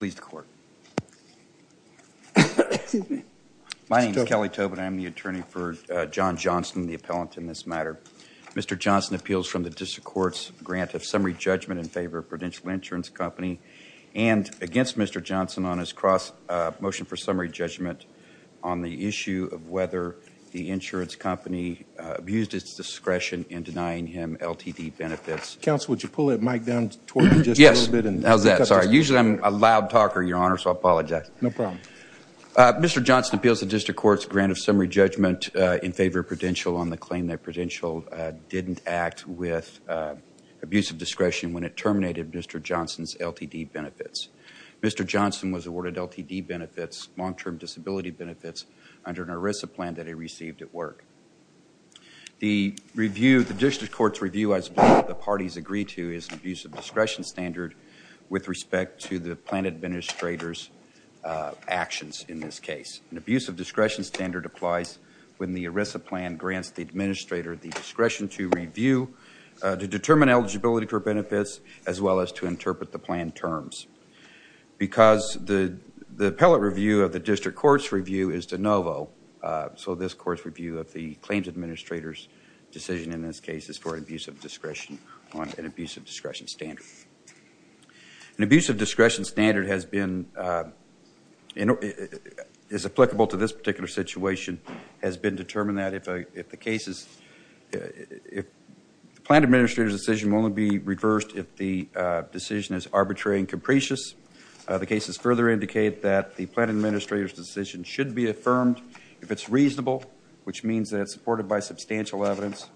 My name is Kelly Tobin, I am the attorney for John Johnston, the appellant in this matter. Mr. Johnston appeals from the District Court's grant of summary judgment in favor of Prudential Insurance Company and against Mr. Johnston on his motion for summary judgment on the issue of whether the insurance company abused its discretion in denying him LTD benefits. Counsel would you pull that mic down toward you just a little bit? Yes. How's that? Sorry. Usually I'm a loud talker, Your Honor, so I apologize. No problem. Mr. Johnston appeals the District Court's grant of summary judgment in favor of Prudential on the claim that Prudential didn't act with abusive discretion when it terminated Mr. Johnston's LTD benefits. Mr. Johnston was awarded LTD benefits, long-term disability benefits, under an ERISA plan that he received at work. The review, the District Court's review, as both of the parties agreed to, is an abuse of discretion standard with respect to the plan administrator's actions in this case. An abuse of discretion standard applies when the ERISA plan grants the administrator the discretion to review, to determine eligibility for benefits, as well as to interpret the plan terms. Because the appellate review of the District Court's review is de novo, so this Court's review of the claims administrator's decision in this case is for an abuse of discretion standard. An abuse of discretion standard has been, is applicable to this particular situation, has been determined that if the case is, if the plan administrator's decision won't be reversed if the decision is arbitrary and capricious. The cases further indicate that the plan administrator's decision should be affirmed if it's reasonable, which means that it's supported by substantial evidence.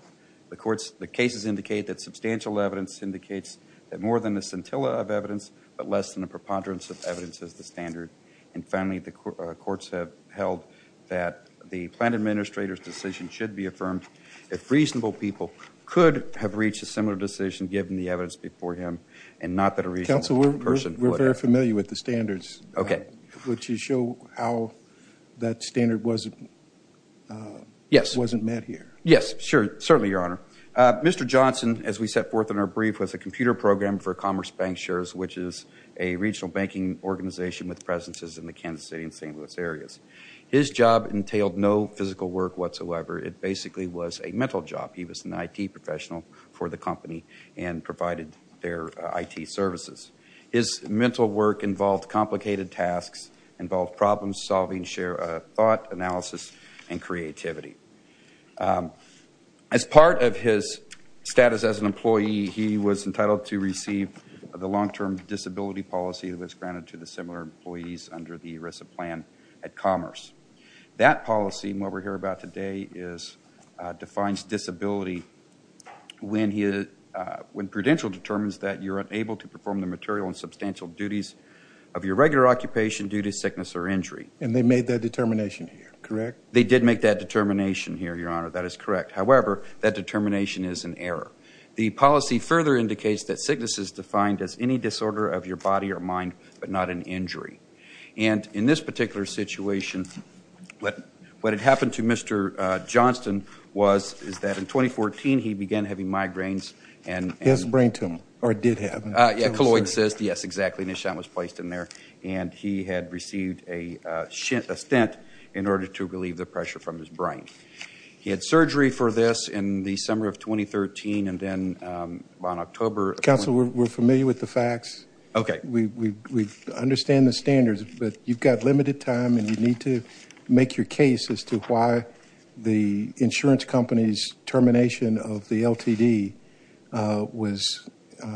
The courts, the cases indicate that substantial evidence indicates that more than the scintilla of evidence, but less than the preponderance of evidence is the standard. And finally, the courts have held that the plan administrator's decision should be affirmed if reasonable people could have reached a similar decision given the evidence before him and not that a reasonable person would have. Counsel, we're very familiar with the standards. Okay. Would you show how that standard wasn't, wasn't met here? Yes, sure. Certainly, Your Honor. Mr. Johnson, as we set forth in our brief, was a computer programmer for Commerce Bank Shares, which is a regional banking organization with presences in the Kansas City and St. Louis areas. His job entailed no physical work whatsoever. It basically was a mental job. He was an IT professional for the company and provided their IT services. His mental work involved complicated tasks, involved problem solving, thought analysis, and creativity. As part of his status as an employee, he was entitled to receive the long-term disability policy that was granted to the similar employees under the ERISA plan at Commerce. That policy, and what we're here about today, defines disability when prudential determines that you're unable to perform the material and substantial duties of your regular occupation due to sickness or injury. And they made that determination here, correct? They did make that determination here, Your Honor. That is correct. However, that determination is an error. The policy further indicates that sickness is defined as any disorder of your body or mind but not an injury. And in this particular situation, what had happened to Mr. Johnson was that in 2014, he began having migraines and- His brain tumor, or it did happen. Yeah, colloid cyst. Yes, exactly. And a stent was placed in there, and he had received a stent in order to relieve the pressure from his brain. He had surgery for this in the summer of 2013, and then on October- Counsel, we're familiar with the facts. Okay. We understand the standards, but you've got limited time, and you need to make your case as to why the insurance company's termination of the LTD was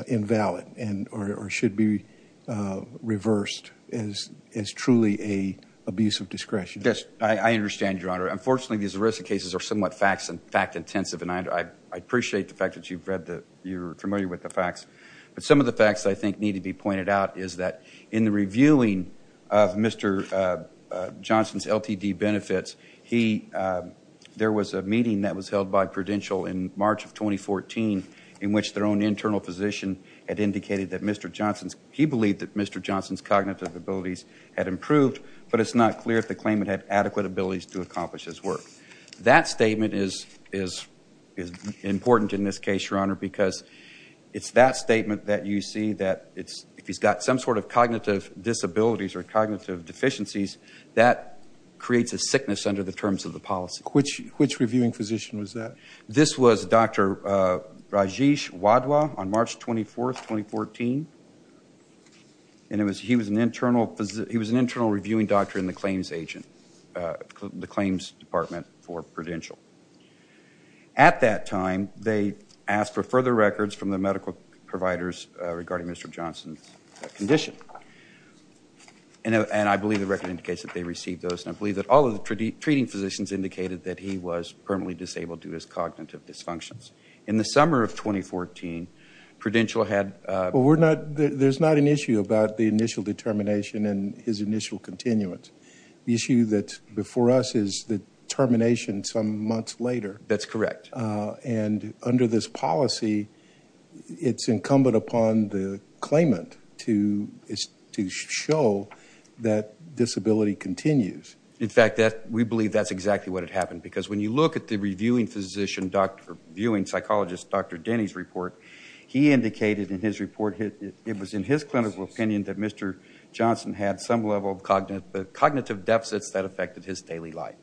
invalid or should be reversed as truly an abuse of discretion. Yes. I understand, Your Honor. Unfortunately, these ERISA cases are somewhat fact-intensive, and I appreciate the fact that you're familiar with the facts, but some of the facts I think need to be pointed out is that in the reviewing of Mr. Johnson's LTD benefits, there was a meeting that was held by Prudential in March of 2014 in which their own internal physician had indicated that Mr. Johnson's- he believed that Mr. Johnson's cognitive abilities had improved, but it's not clear if the claimant had adequate abilities to accomplish his work. That statement is important in this case, Your Honor, because it's that statement that you see that if he's got some sort of cognitive disabilities or cognitive deficiencies, that creates a sickness under the terms of the policy. Which reviewing physician was that? This was Dr. Rajesh Wadhwa on March 24th, 2014, and he was an internal reviewing doctor in the claims department for Prudential. At that time, they asked for further records from the medical providers regarding Mr. Johnson's condition, and I believe the record indicates that they received those, and I believe that all of the treating physicians indicated that he was permanently disabled due to his cognitive dysfunctions. In the summer of 2014, Prudential had- Well, we're not- there's not an issue about the initial determination and his initial continuance. The issue that's before us is the termination some months later. That's correct. And under this policy, it's incumbent upon the claimant to show that disability continues. In fact, we believe that's exactly what had happened, because when you look at the reviewing physician- reviewing psychologist Dr. Denny's report, he indicated in his report- it was in his clinical opinion that Mr. Johnson had some level of cognitive deficits that affected his daily life.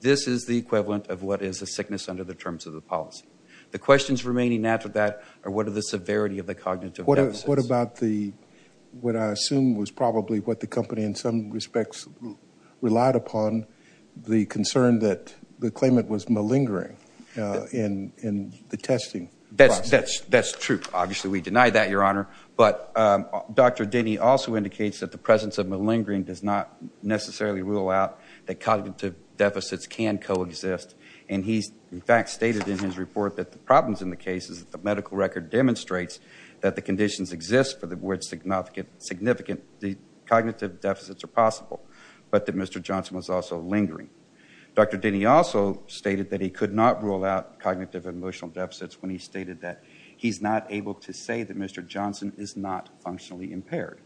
This is the equivalent of what is a sickness under the terms of the policy. The questions remaining after that are what are the severity of the cognitive deficits. What about the- what I assume was probably what the company in some respects relied upon, the concern that the claimant was malingering in the testing process. That's true. Obviously, we deny that, Your Honor, but Dr. Denny also indicates that the presence of malingering does not necessarily rule out that cognitive deficits can coexist. And he's, in fact, stated in his report that the problems in the case is that the medical record demonstrates that the conditions exist for which significant cognitive deficits are possible, but that Mr. Johnson was also lingering. Dr. Denny also stated that he could not rule out cognitive and emotional deficits when he stated that he's not able to say that Mr. Johnson is not functionally impaired.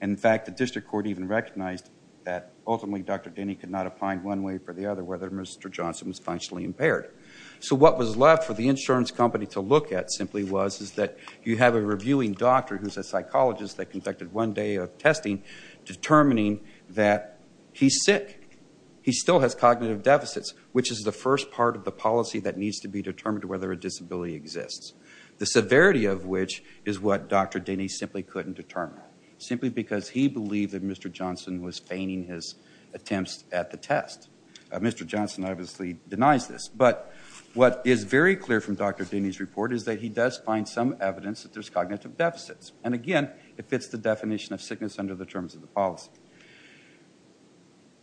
In fact, the district court even recognized that ultimately Dr. Denny could not find one way or the other whether Mr. Johnson was functionally impaired. So what was left for the insurance company to look at simply was that you have a reviewing doctor who's a psychologist that conducted one day of testing determining that he's sick. He still has cognitive deficits, which is the first part of the policy that needs to be determined whether a disability exists, the severity of which is what Dr. Denny simply couldn't determine, simply because he believed that Mr. Johnson was feigning his attempts at the test. Mr. Johnson obviously denies this, but what is very clear from Dr. Denny's report is that he does find some evidence that there's cognitive deficits. And again, it fits the definition of sickness under the terms of the policy.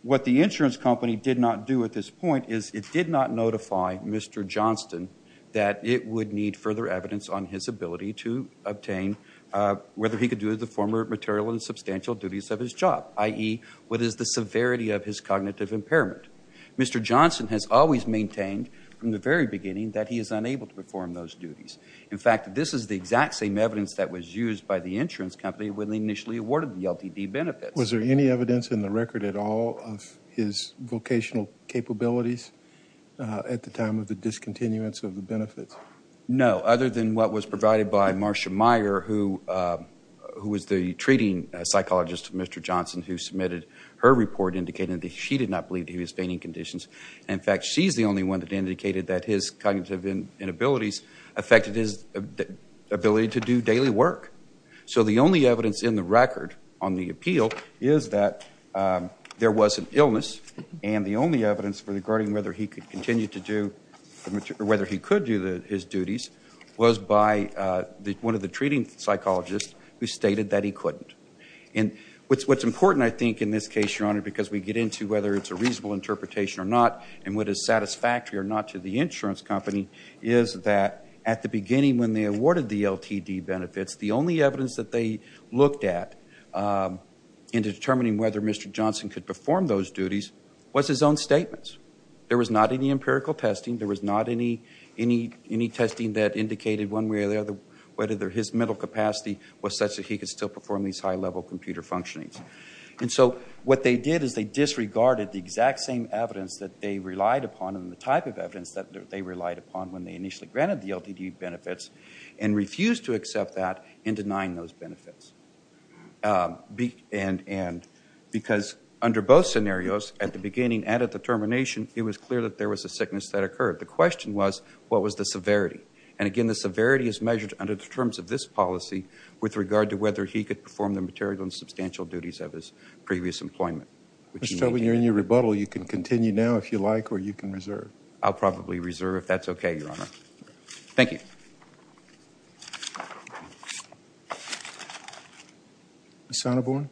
What the insurance company did not do at this point is it did not notify Mr. Johnson that it would need further evidence on his ability to obtain whether he could do the former material and substantial duties of his job, i.e., what is the severity of his cognitive impairment. Mr. Johnson has always maintained from the very beginning that he is unable to perform those duties. In fact, this is the exact same evidence that was used by the insurance company when they initially awarded the LTD benefits. Was there any evidence in the record at all of his vocational capabilities at the time of the discontinuance of the benefits? No, other than what was provided by Marcia Meyer, who was the treating psychologist of Mr. Johnson, who submitted her report indicating that she did not believe that he was feigning conditions. In fact, she's the only one that indicated that his cognitive inabilities affected his ability to do daily work. So the only evidence in the record on the appeal is that there was an illness, and the only evidence regarding whether he could continue to do or whether he could do his duties was by one of the treating psychologists who stated that he couldn't. What's important, I think, in this case, Your Honor, because we get into whether it's a reasonable interpretation or not and what is satisfactory or not to the insurance company is that at the beginning when they awarded the LTD benefits, the only evidence that they looked at in determining whether Mr. Johnson could perform those duties was his own statements. There was not any empirical testing. There was not any testing that indicated one way or the other whether his mental capacity was such that he could still perform these high-level computer functionings. And so what they did is they disregarded the exact same evidence that they relied upon and the type of evidence that they relied upon when they initially granted the LTD benefits and refused to accept that in denying those benefits. Because under both scenarios, at the beginning and at the termination, it was clear that there was a sickness that occurred. The question was, what was the severity? And again, the severity is measured under the terms of this policy with regard to whether he could perform the material and substantial duties of his previous employment. Mr. Tobin, you're in your rebuttal. You can continue now if you like or you can reserve. I'll probably reserve if that's okay, Your Honor. Thank you. Ms. Sonneborn?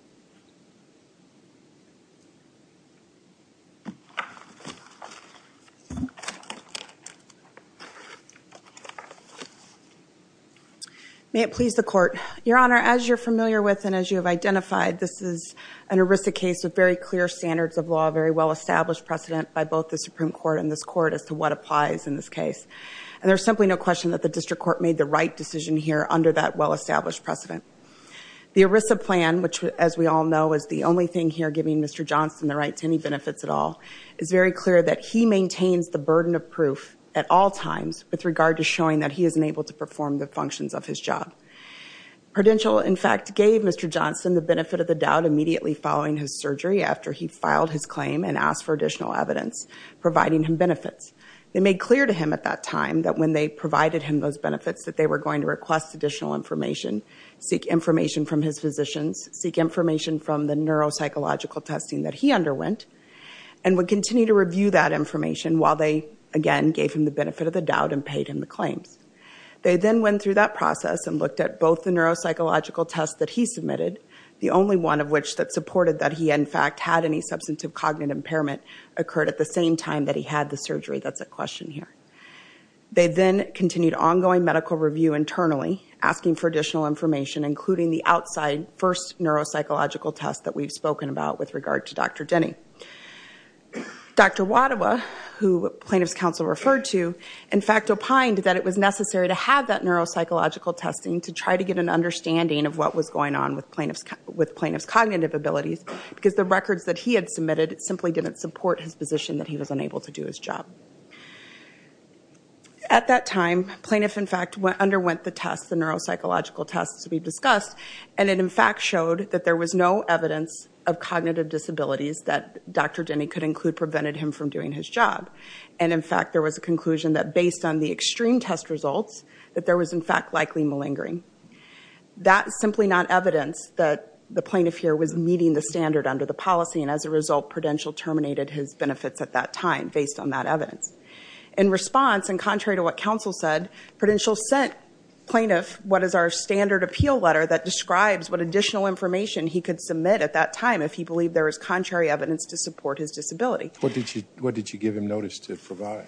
May it please the Court. Your Honor, as you're familiar with and as you have identified, this is an heuristic case with very clear standards of law, very well-established precedent by both the Supreme Court and this Court as to what applies in this case. And there's simply no question that the District Court made the right decision here under that well-established precedent. The ERISA plan, which as we all know, is the only thing here giving Mr. Johnson the right to any benefits at all, is very clear that he maintains the burden of proof at all times with regard to showing that he is enabled to perform the functions of his job. Prudential, in fact, gave Mr. Johnson the benefit of the doubt immediately following his surgery after he filed his claim and asked for additional evidence providing him benefits. They made clear to him at that time that when they provided him those benefits that they were going to request additional information, seek information from his physicians, seek information from the neuropsychological testing that he underwent, and would continue to review that information while they, again, gave him the benefit of the doubt and paid him the claims. They then went through that process and looked at both the neuropsychological tests that he submitted, the only one of which that supported that he, in fact, had any substantive cognitive impairment occurred at the same time that he had the surgery. That's a question here. They then continued ongoing medical review internally, asking for additional information, including the outside first neuropsychological test that we've spoken about with regard to Dr. Denny. Dr. Wadawa, who plaintiff's counsel referred to, in fact, opined that it was necessary to have that neuropsychological testing to try to get an understanding of what was going on with plaintiff's cognitive abilities because the records that he had submitted simply didn't support his position that he was unable to do his job. At that time, plaintiff, in fact, underwent the tests, the neuropsychological tests we've Dr. Denny could include prevented him from doing his job. And in fact, there was a conclusion that based on the extreme test results, that there was, in fact, likely malingering. That's simply not evidence that the plaintiff here was meeting the standard under the policy. And as a result, Prudential terminated his benefits at that time based on that evidence. In response, and contrary to what counsel said, Prudential sent plaintiff what is our standard appeal letter that describes what additional information he could submit at time if he believed there was contrary evidence to support his disability. What did you give him notice to provide?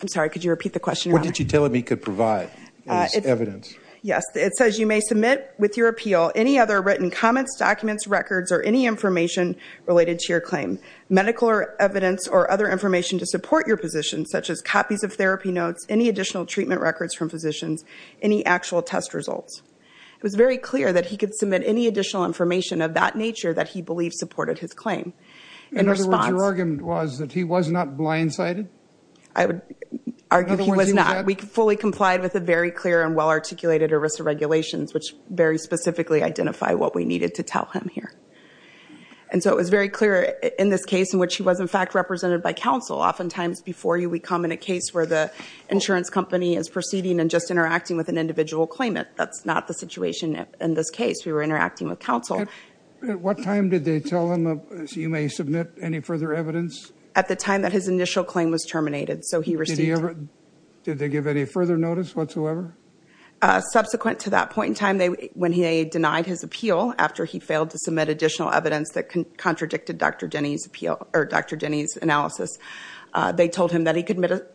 I'm sorry, could you repeat the question? What did you tell him he could provide as evidence? Yes, it says you may submit with your appeal any other written comments, documents, records, or any information related to your claim, medical evidence, or other information to support your position, such as copies of therapy notes, any additional treatment records from physicians, any actual test results. It was very clear that he could submit any additional information of that nature that he believed supported his claim. In other words, your argument was that he was not blindsided? I would argue he was not. We fully complied with a very clear and well-articulated ERISA regulations, which very specifically identify what we needed to tell him here. And so it was very clear in this case in which he was, in fact, represented by counsel. Oftentimes before you, we come in a case where the insurance company is proceeding and just interacting with an individual claimant. That's not the situation in this case. We were interacting with counsel. At what time did they tell him, you may submit any further evidence? At the time that his initial claim was terminated, so he received it. Did they give any further notice whatsoever? Subsequent to that point in time, when he denied his appeal after he failed to submit additional evidence that contradicted Dr. Denny's appeal or Dr. Denny's analysis, they told him that he could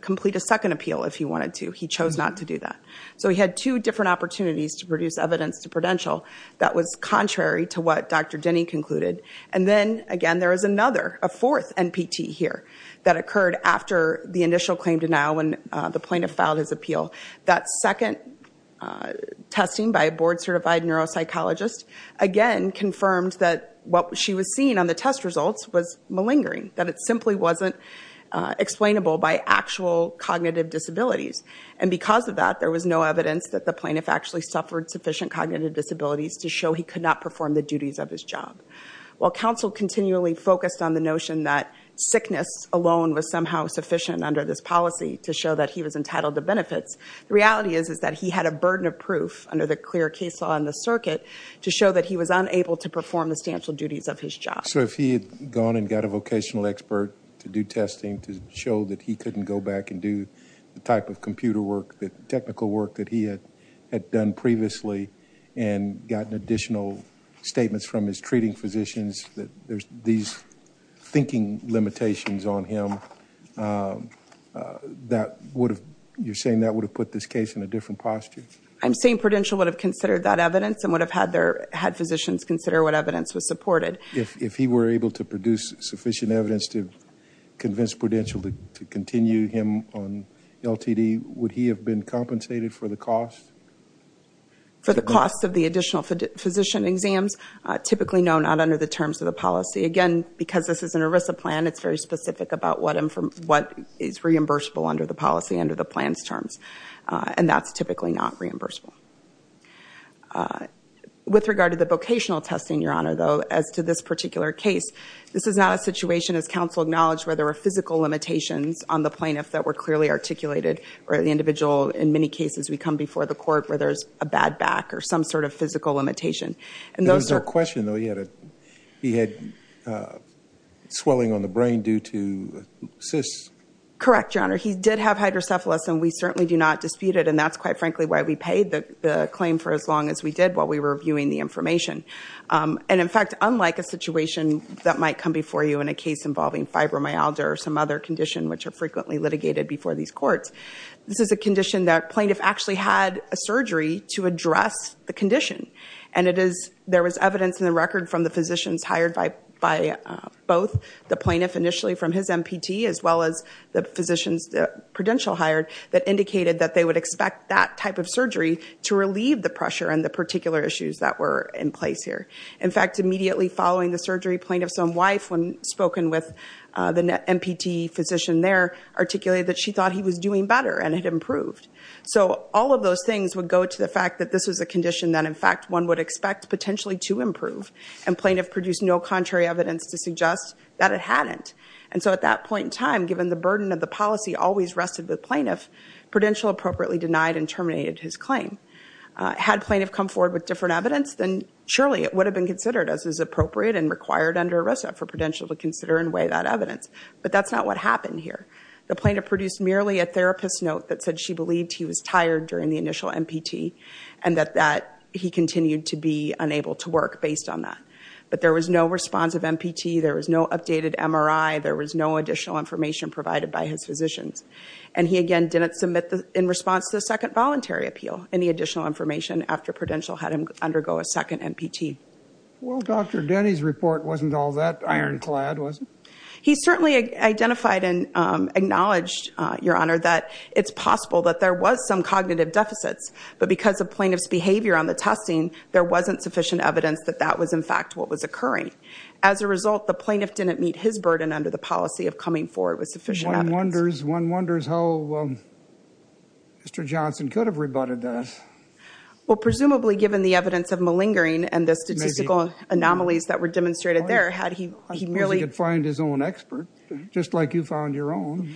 complete a second appeal if he wanted to. He chose not to do that. So he had two different opportunities to produce evidence to prudential that was contrary to what Dr. Denny concluded. And then, again, there is another, a fourth NPT here that occurred after the initial claim denial when the plaintiff filed his appeal. That second testing by a board-certified neuropsychologist, again, confirmed that what she was seeing on the test results was malingering, that it simply wasn't explainable by actual cognitive disabilities. And because of that, there was no evidence that the plaintiff actually suffered sufficient cognitive disabilities to show he could not perform the duties of his job. While counsel continually focused on the notion that sickness alone was somehow sufficient under this policy to show that he was entitled to benefits, the reality is that he had a burden of proof under the clear case law in the circuit to show that he was unable to perform the substantial duties of his job. So if he had gone and got a vocational expert to do testing to show that he couldn't go back and do the type of computer work, the technical work that he had done previously and gotten additional statements from his treating physicians that there's these thinking limitations on him, that would have, you're saying that would have put this case in a different posture? I'm saying prudential would have considered that evidence and would have had their, had physicians consider what evidence was supported. If he were able to produce sufficient evidence to convince prudential to continue him on LTD, would he have been compensated for the cost? For the cost of the additional physician exams, typically no, not under the terms of the policy. Again, because this is an ERISA plan, it's very specific about what is reimbursable under the policy, under the plan's terms. And that's typically not reimbursable. With regard to the vocational testing, Your Honor, though, as to this particular case, this is not a situation, as counsel acknowledged, where there were physical limitations on the plaintiff that were clearly articulated or the individual, in many cases, we come before the court where there's a bad back or some sort of physical limitation. And those are- There was no question, though, he had a, he had swelling on the brain due to cysts. Correct, Your Honor. He did have hydrocephalus and we certainly do not dispute it. And that's quite frankly why we paid the claim for as long as we did while we were reviewing the information. And in fact, unlike a situation that might come before you in a case involving fibromyalgia or some other condition which are frequently litigated before these courts, this is a condition that plaintiff actually had a surgery to address the condition. And it is, there was evidence in the record from the physicians hired by both the plaintiff initially from his MPT as well as the physicians, the prudential hired, that indicated that they would expect that type of surgery to relieve the pressure and the particular issues that were in place here. In fact, immediately following the surgery, plaintiff's own wife, when spoken with the MPT physician there, articulated that she thought he was doing better and had improved. So all of those things would go to the fact that this was a condition that, in fact, one would expect potentially to improve. And plaintiff produced no contrary evidence to suggest that it hadn't. And so at that point in time, given the burden of the policy always rested with plaintiff, prudential appropriately denied and terminated his claim. Had plaintiff come forward with different evidence, then surely it would have been considered as is appropriate and required under ERISA for prudential to consider and weigh that evidence. But that's not what happened here. The plaintiff produced merely a therapist note that said she believed he was tired during the initial MPT and that he continued to be unable to work based on that. But there was no response of MPT. There was no updated MRI. There was no additional information provided by his physicians. And he, again, didn't submit in response to the second voluntary appeal any additional information after prudential had him undergo a second MPT. Well, Dr. Denny's report wasn't all that ironclad, was it? He certainly identified and acknowledged, Your Honor, that it's possible that there was some cognitive deficits. But because of plaintiff's behavior on the testing, there wasn't sufficient evidence that that was, in fact, what was occurring. As a result, the plaintiff didn't meet his burden under the policy of coming forward with sufficient evidence. One wonders how Mr. Johnson could have rebutted that. Well, presumably, given the evidence of malingering and the statistical anomalies that were demonstrated there, had he really... He could find his own expert, just like you found your own.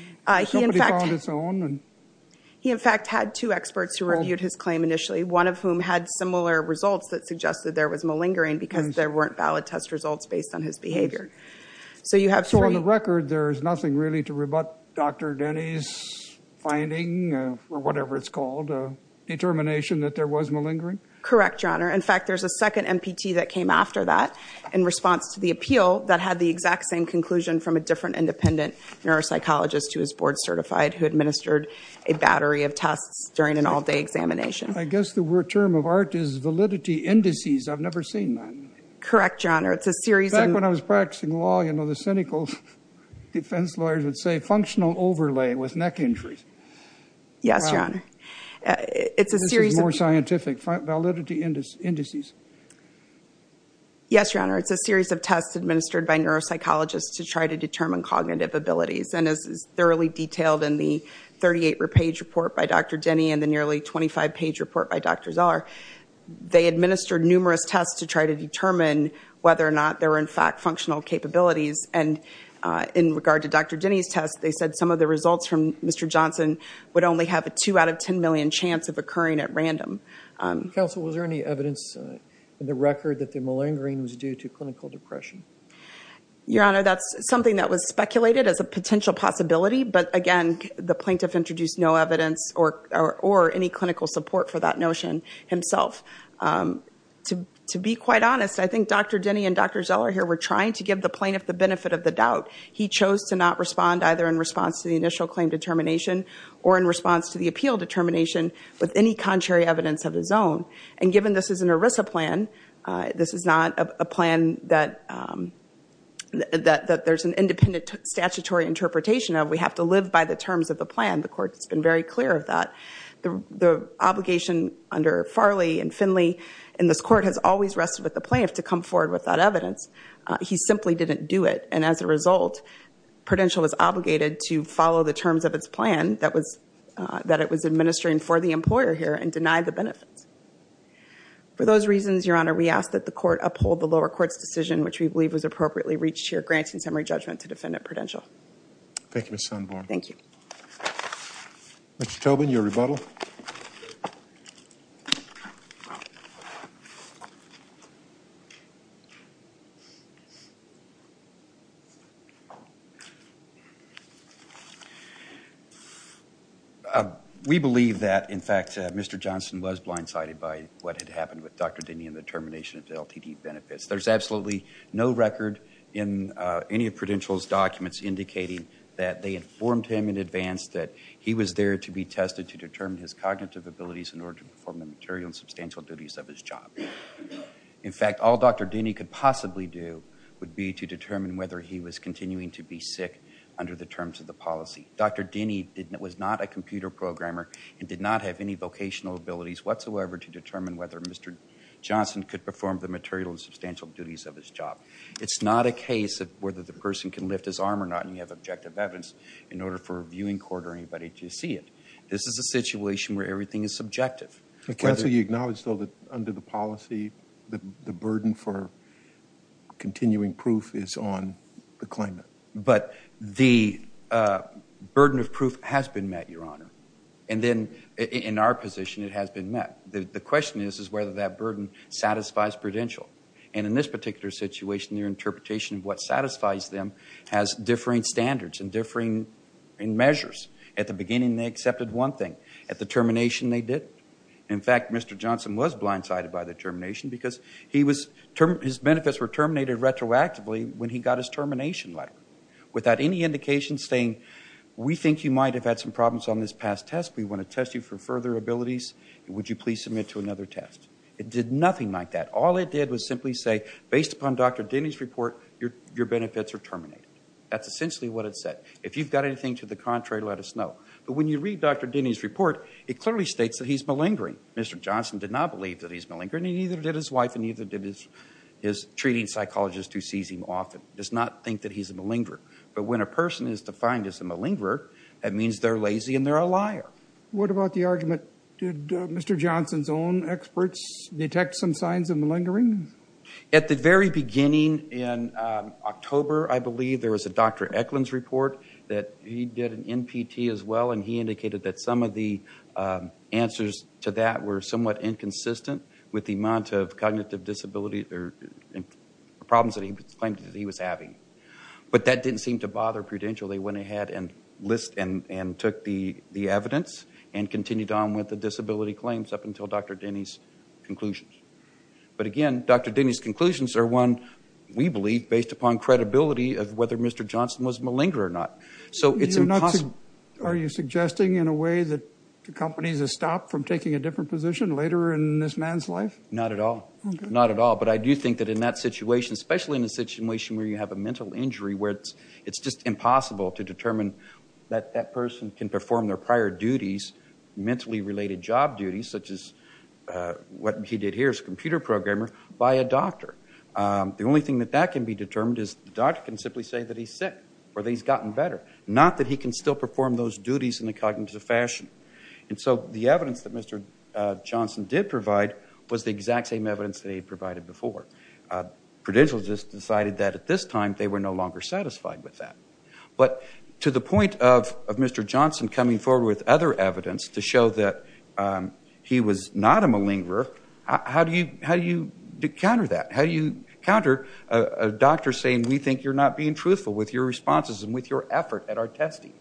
He, in fact, had two experts who reviewed his claim initially, one of whom had similar results that suggested there was malingering because there weren't valid test results based on his behavior. So you have three... There's nothing really to rebut Dr. Denny's finding, or whatever it's called, determination that there was malingering? Correct, Your Honor. In fact, there's a second MPT that came after that in response to the appeal that had the exact same conclusion from a different independent neuropsychologist who was board certified who administered a battery of tests during an all-day examination. I guess the term of art is validity indices. I've never seen that. Correct, Your Honor. It's a series of... Defense lawyers would say functional overlay with neck injuries. Yes, Your Honor. It's a series of... This is more scientific. Validity indices. Yes, Your Honor. It's a series of tests administered by neuropsychologists to try to determine cognitive abilities. And as is thoroughly detailed in the 38-page report by Dr. Denny and the nearly 25-page report by Dr. Zahar, they administered numerous tests to try to determine whether or not there were, in fact, functional capabilities. And in regard to Dr. Denny's test, they said some of the results from Mr. Johnson would only have a 2 out of 10 million chance of occurring at random. Counsel, was there any evidence in the record that the malingering was due to clinical depression? Your Honor, that's something that was speculated as a potential possibility. But again, the plaintiff introduced no evidence or any clinical support for that notion himself. To be quite honest, I think Dr. Denny and Dr. Zahar here were trying to give the plaintiff the benefit of the doubt. He chose to not respond either in response to the initial claim determination or in response to the appeal determination with any contrary evidence of his own. And given this is an ERISA plan, this is not a plan that there's an independent statutory interpretation of. We have to live by the terms of the plan. The court has been very clear of that. The obligation under Farley and Finley in this court has always rested with the plaintiff to come forward with that evidence. He simply didn't do it. And as a result, Prudential was obligated to follow the terms of its plan that it was administering for the employer here and deny the benefits. For those reasons, Your Honor, we ask that the court uphold the lower court's decision, which we believe was appropriately reached here, granting summary judgment to Defendant Prudential. Thank you, Ms. Sundborn. Thank you. Mr. Tobin, your rebuttal. We believe that, in fact, Mr. Johnson was blindsided by what had happened with Dr. Dinney and the termination of the LTD benefits. There's absolutely no record in any of Prudential's documents indicating that they informed him in advance that he was there to be tested to determine his cognitive abilities in order to perform the material and substantial duties of his job. In fact, all Dr. Dinney could possibly do would be to determine whether he was continuing to be sick under the terms of the policy. Dr. Dinney was not a computer programmer and did not have any vocational abilities whatsoever to determine whether Mr. Johnson could perform the material and substantial duties of his job. It's not a case of whether the person can lift his arm or not, and you have objective evidence in order for a viewing court or anybody to see it. This is a situation where everything is subjective. Counsel, you acknowledge, though, that under the policy, the burden for continuing proof is on the claimant. But the burden of proof has been met, Your Honor, and then in our position it has been met. The question is whether that burden satisfies Prudential. And in this particular situation, their interpretation of what satisfies them has differing standards and differing measures. At the beginning, they accepted one thing. At the termination, they didn't. In fact, Mr. Johnson was blindsided by the termination because his benefits were terminated retroactively when he got his termination letter without any indication saying, we think you might have had some problems on this past test. We want to test you for further abilities. Would you please submit to another test? It did nothing like that. All it did was simply say, based upon Dr. Dinney's report, your benefits are terminated. That's essentially what it said. If you've got anything to the contrary, let us know. But when you read Dr. Dinney's report, it clearly states that he's malingering. Mr. Johnson did not believe that he's malingering. He neither did his wife and neither did his treating psychologist who sees him often. Does not think that he's a malingerer. But when a person is defined as a malingerer, that means they're lazy and they're a liar. What about the argument, did Mr. Johnson's own experts detect some signs of malingering? At the very beginning in October, I believe, there was a Dr. Eklund's report that he did in NPT as well and he indicated that some of the answers to that were somewhat inconsistent with the amount of cognitive disability or problems that he claimed that he was having. But that didn't seem to bother Prudential. They went ahead and list and took the evidence and continued on with the disability claims up until Dr. Dinney's conclusions. But again, Dr. Dinney's conclusions are one, we believe, based upon credibility of whether Mr. Johnson was malingerer or not. So it's impossible. Are you suggesting in a way that the companies have stopped from taking a different position later in this man's life? Not at all. Not at all. But I do think that in that situation, especially in a situation where you have a mental injury, where it's just impossible to determine that that person can perform their prior duties, mentally related job duties, such as what he did here as a computer programmer by a doctor. The only thing that that can be determined is the doctor can simply say that he's sick or that he's gotten better. Not that he can still perform those duties in a cognitive fashion. And so the evidence that Mr. Johnson did provide was the exact same evidence that he provided before. Prudential just decided that at this time, they were no longer satisfied with that. But to the point of Mr. Johnson coming forward with other evidence to show that he was not a malingerer, how do you counter that? With your responses and with your effort at our testing.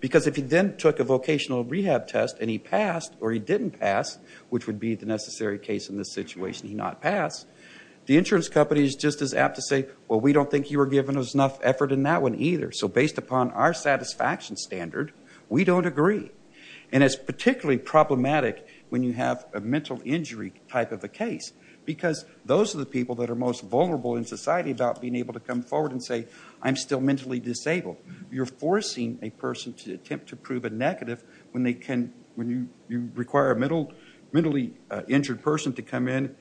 Because if he then took a vocational rehab test and he passed or he didn't pass, which would be the necessary case in this situation, he not pass, the insurance company is just as apt to say, well, we don't think you were giving us enough effort in that one either. So based upon our satisfaction standard, we don't agree. And it's particularly problematic when you have a mental injury type of a case. Because those are the people that are most vulnerable in society about being able to come forward and say, I'm still mentally disabled. You're forcing a person to attempt to prove a negative when you require a mentally injured person to come in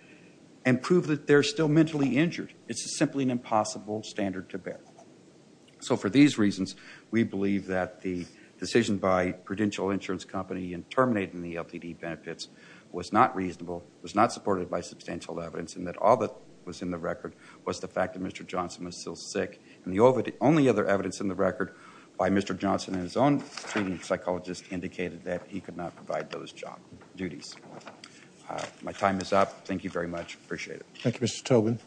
and prove that they're still mentally injured. It's simply an impossible standard to bear. So for these reasons, we believe that the decision by Prudential Insurance Company in terminating the LTD benefits was not reasonable, was not supported by substantial evidence, and that all that was in the record was the fact that Mr. Johnson was still sick. And the only other evidence in the record by Mr. Johnson and his own treating psychologist indicated that he could not provide those duties. My time is up. Thank you very much. Appreciate it. Thank you, Mr. Tobin.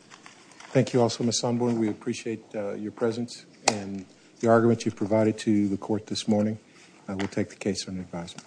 Thank you also, Ms. Sonborn. We appreciate your presence and the argument you provided to the court this morning. I will take the case under advisement.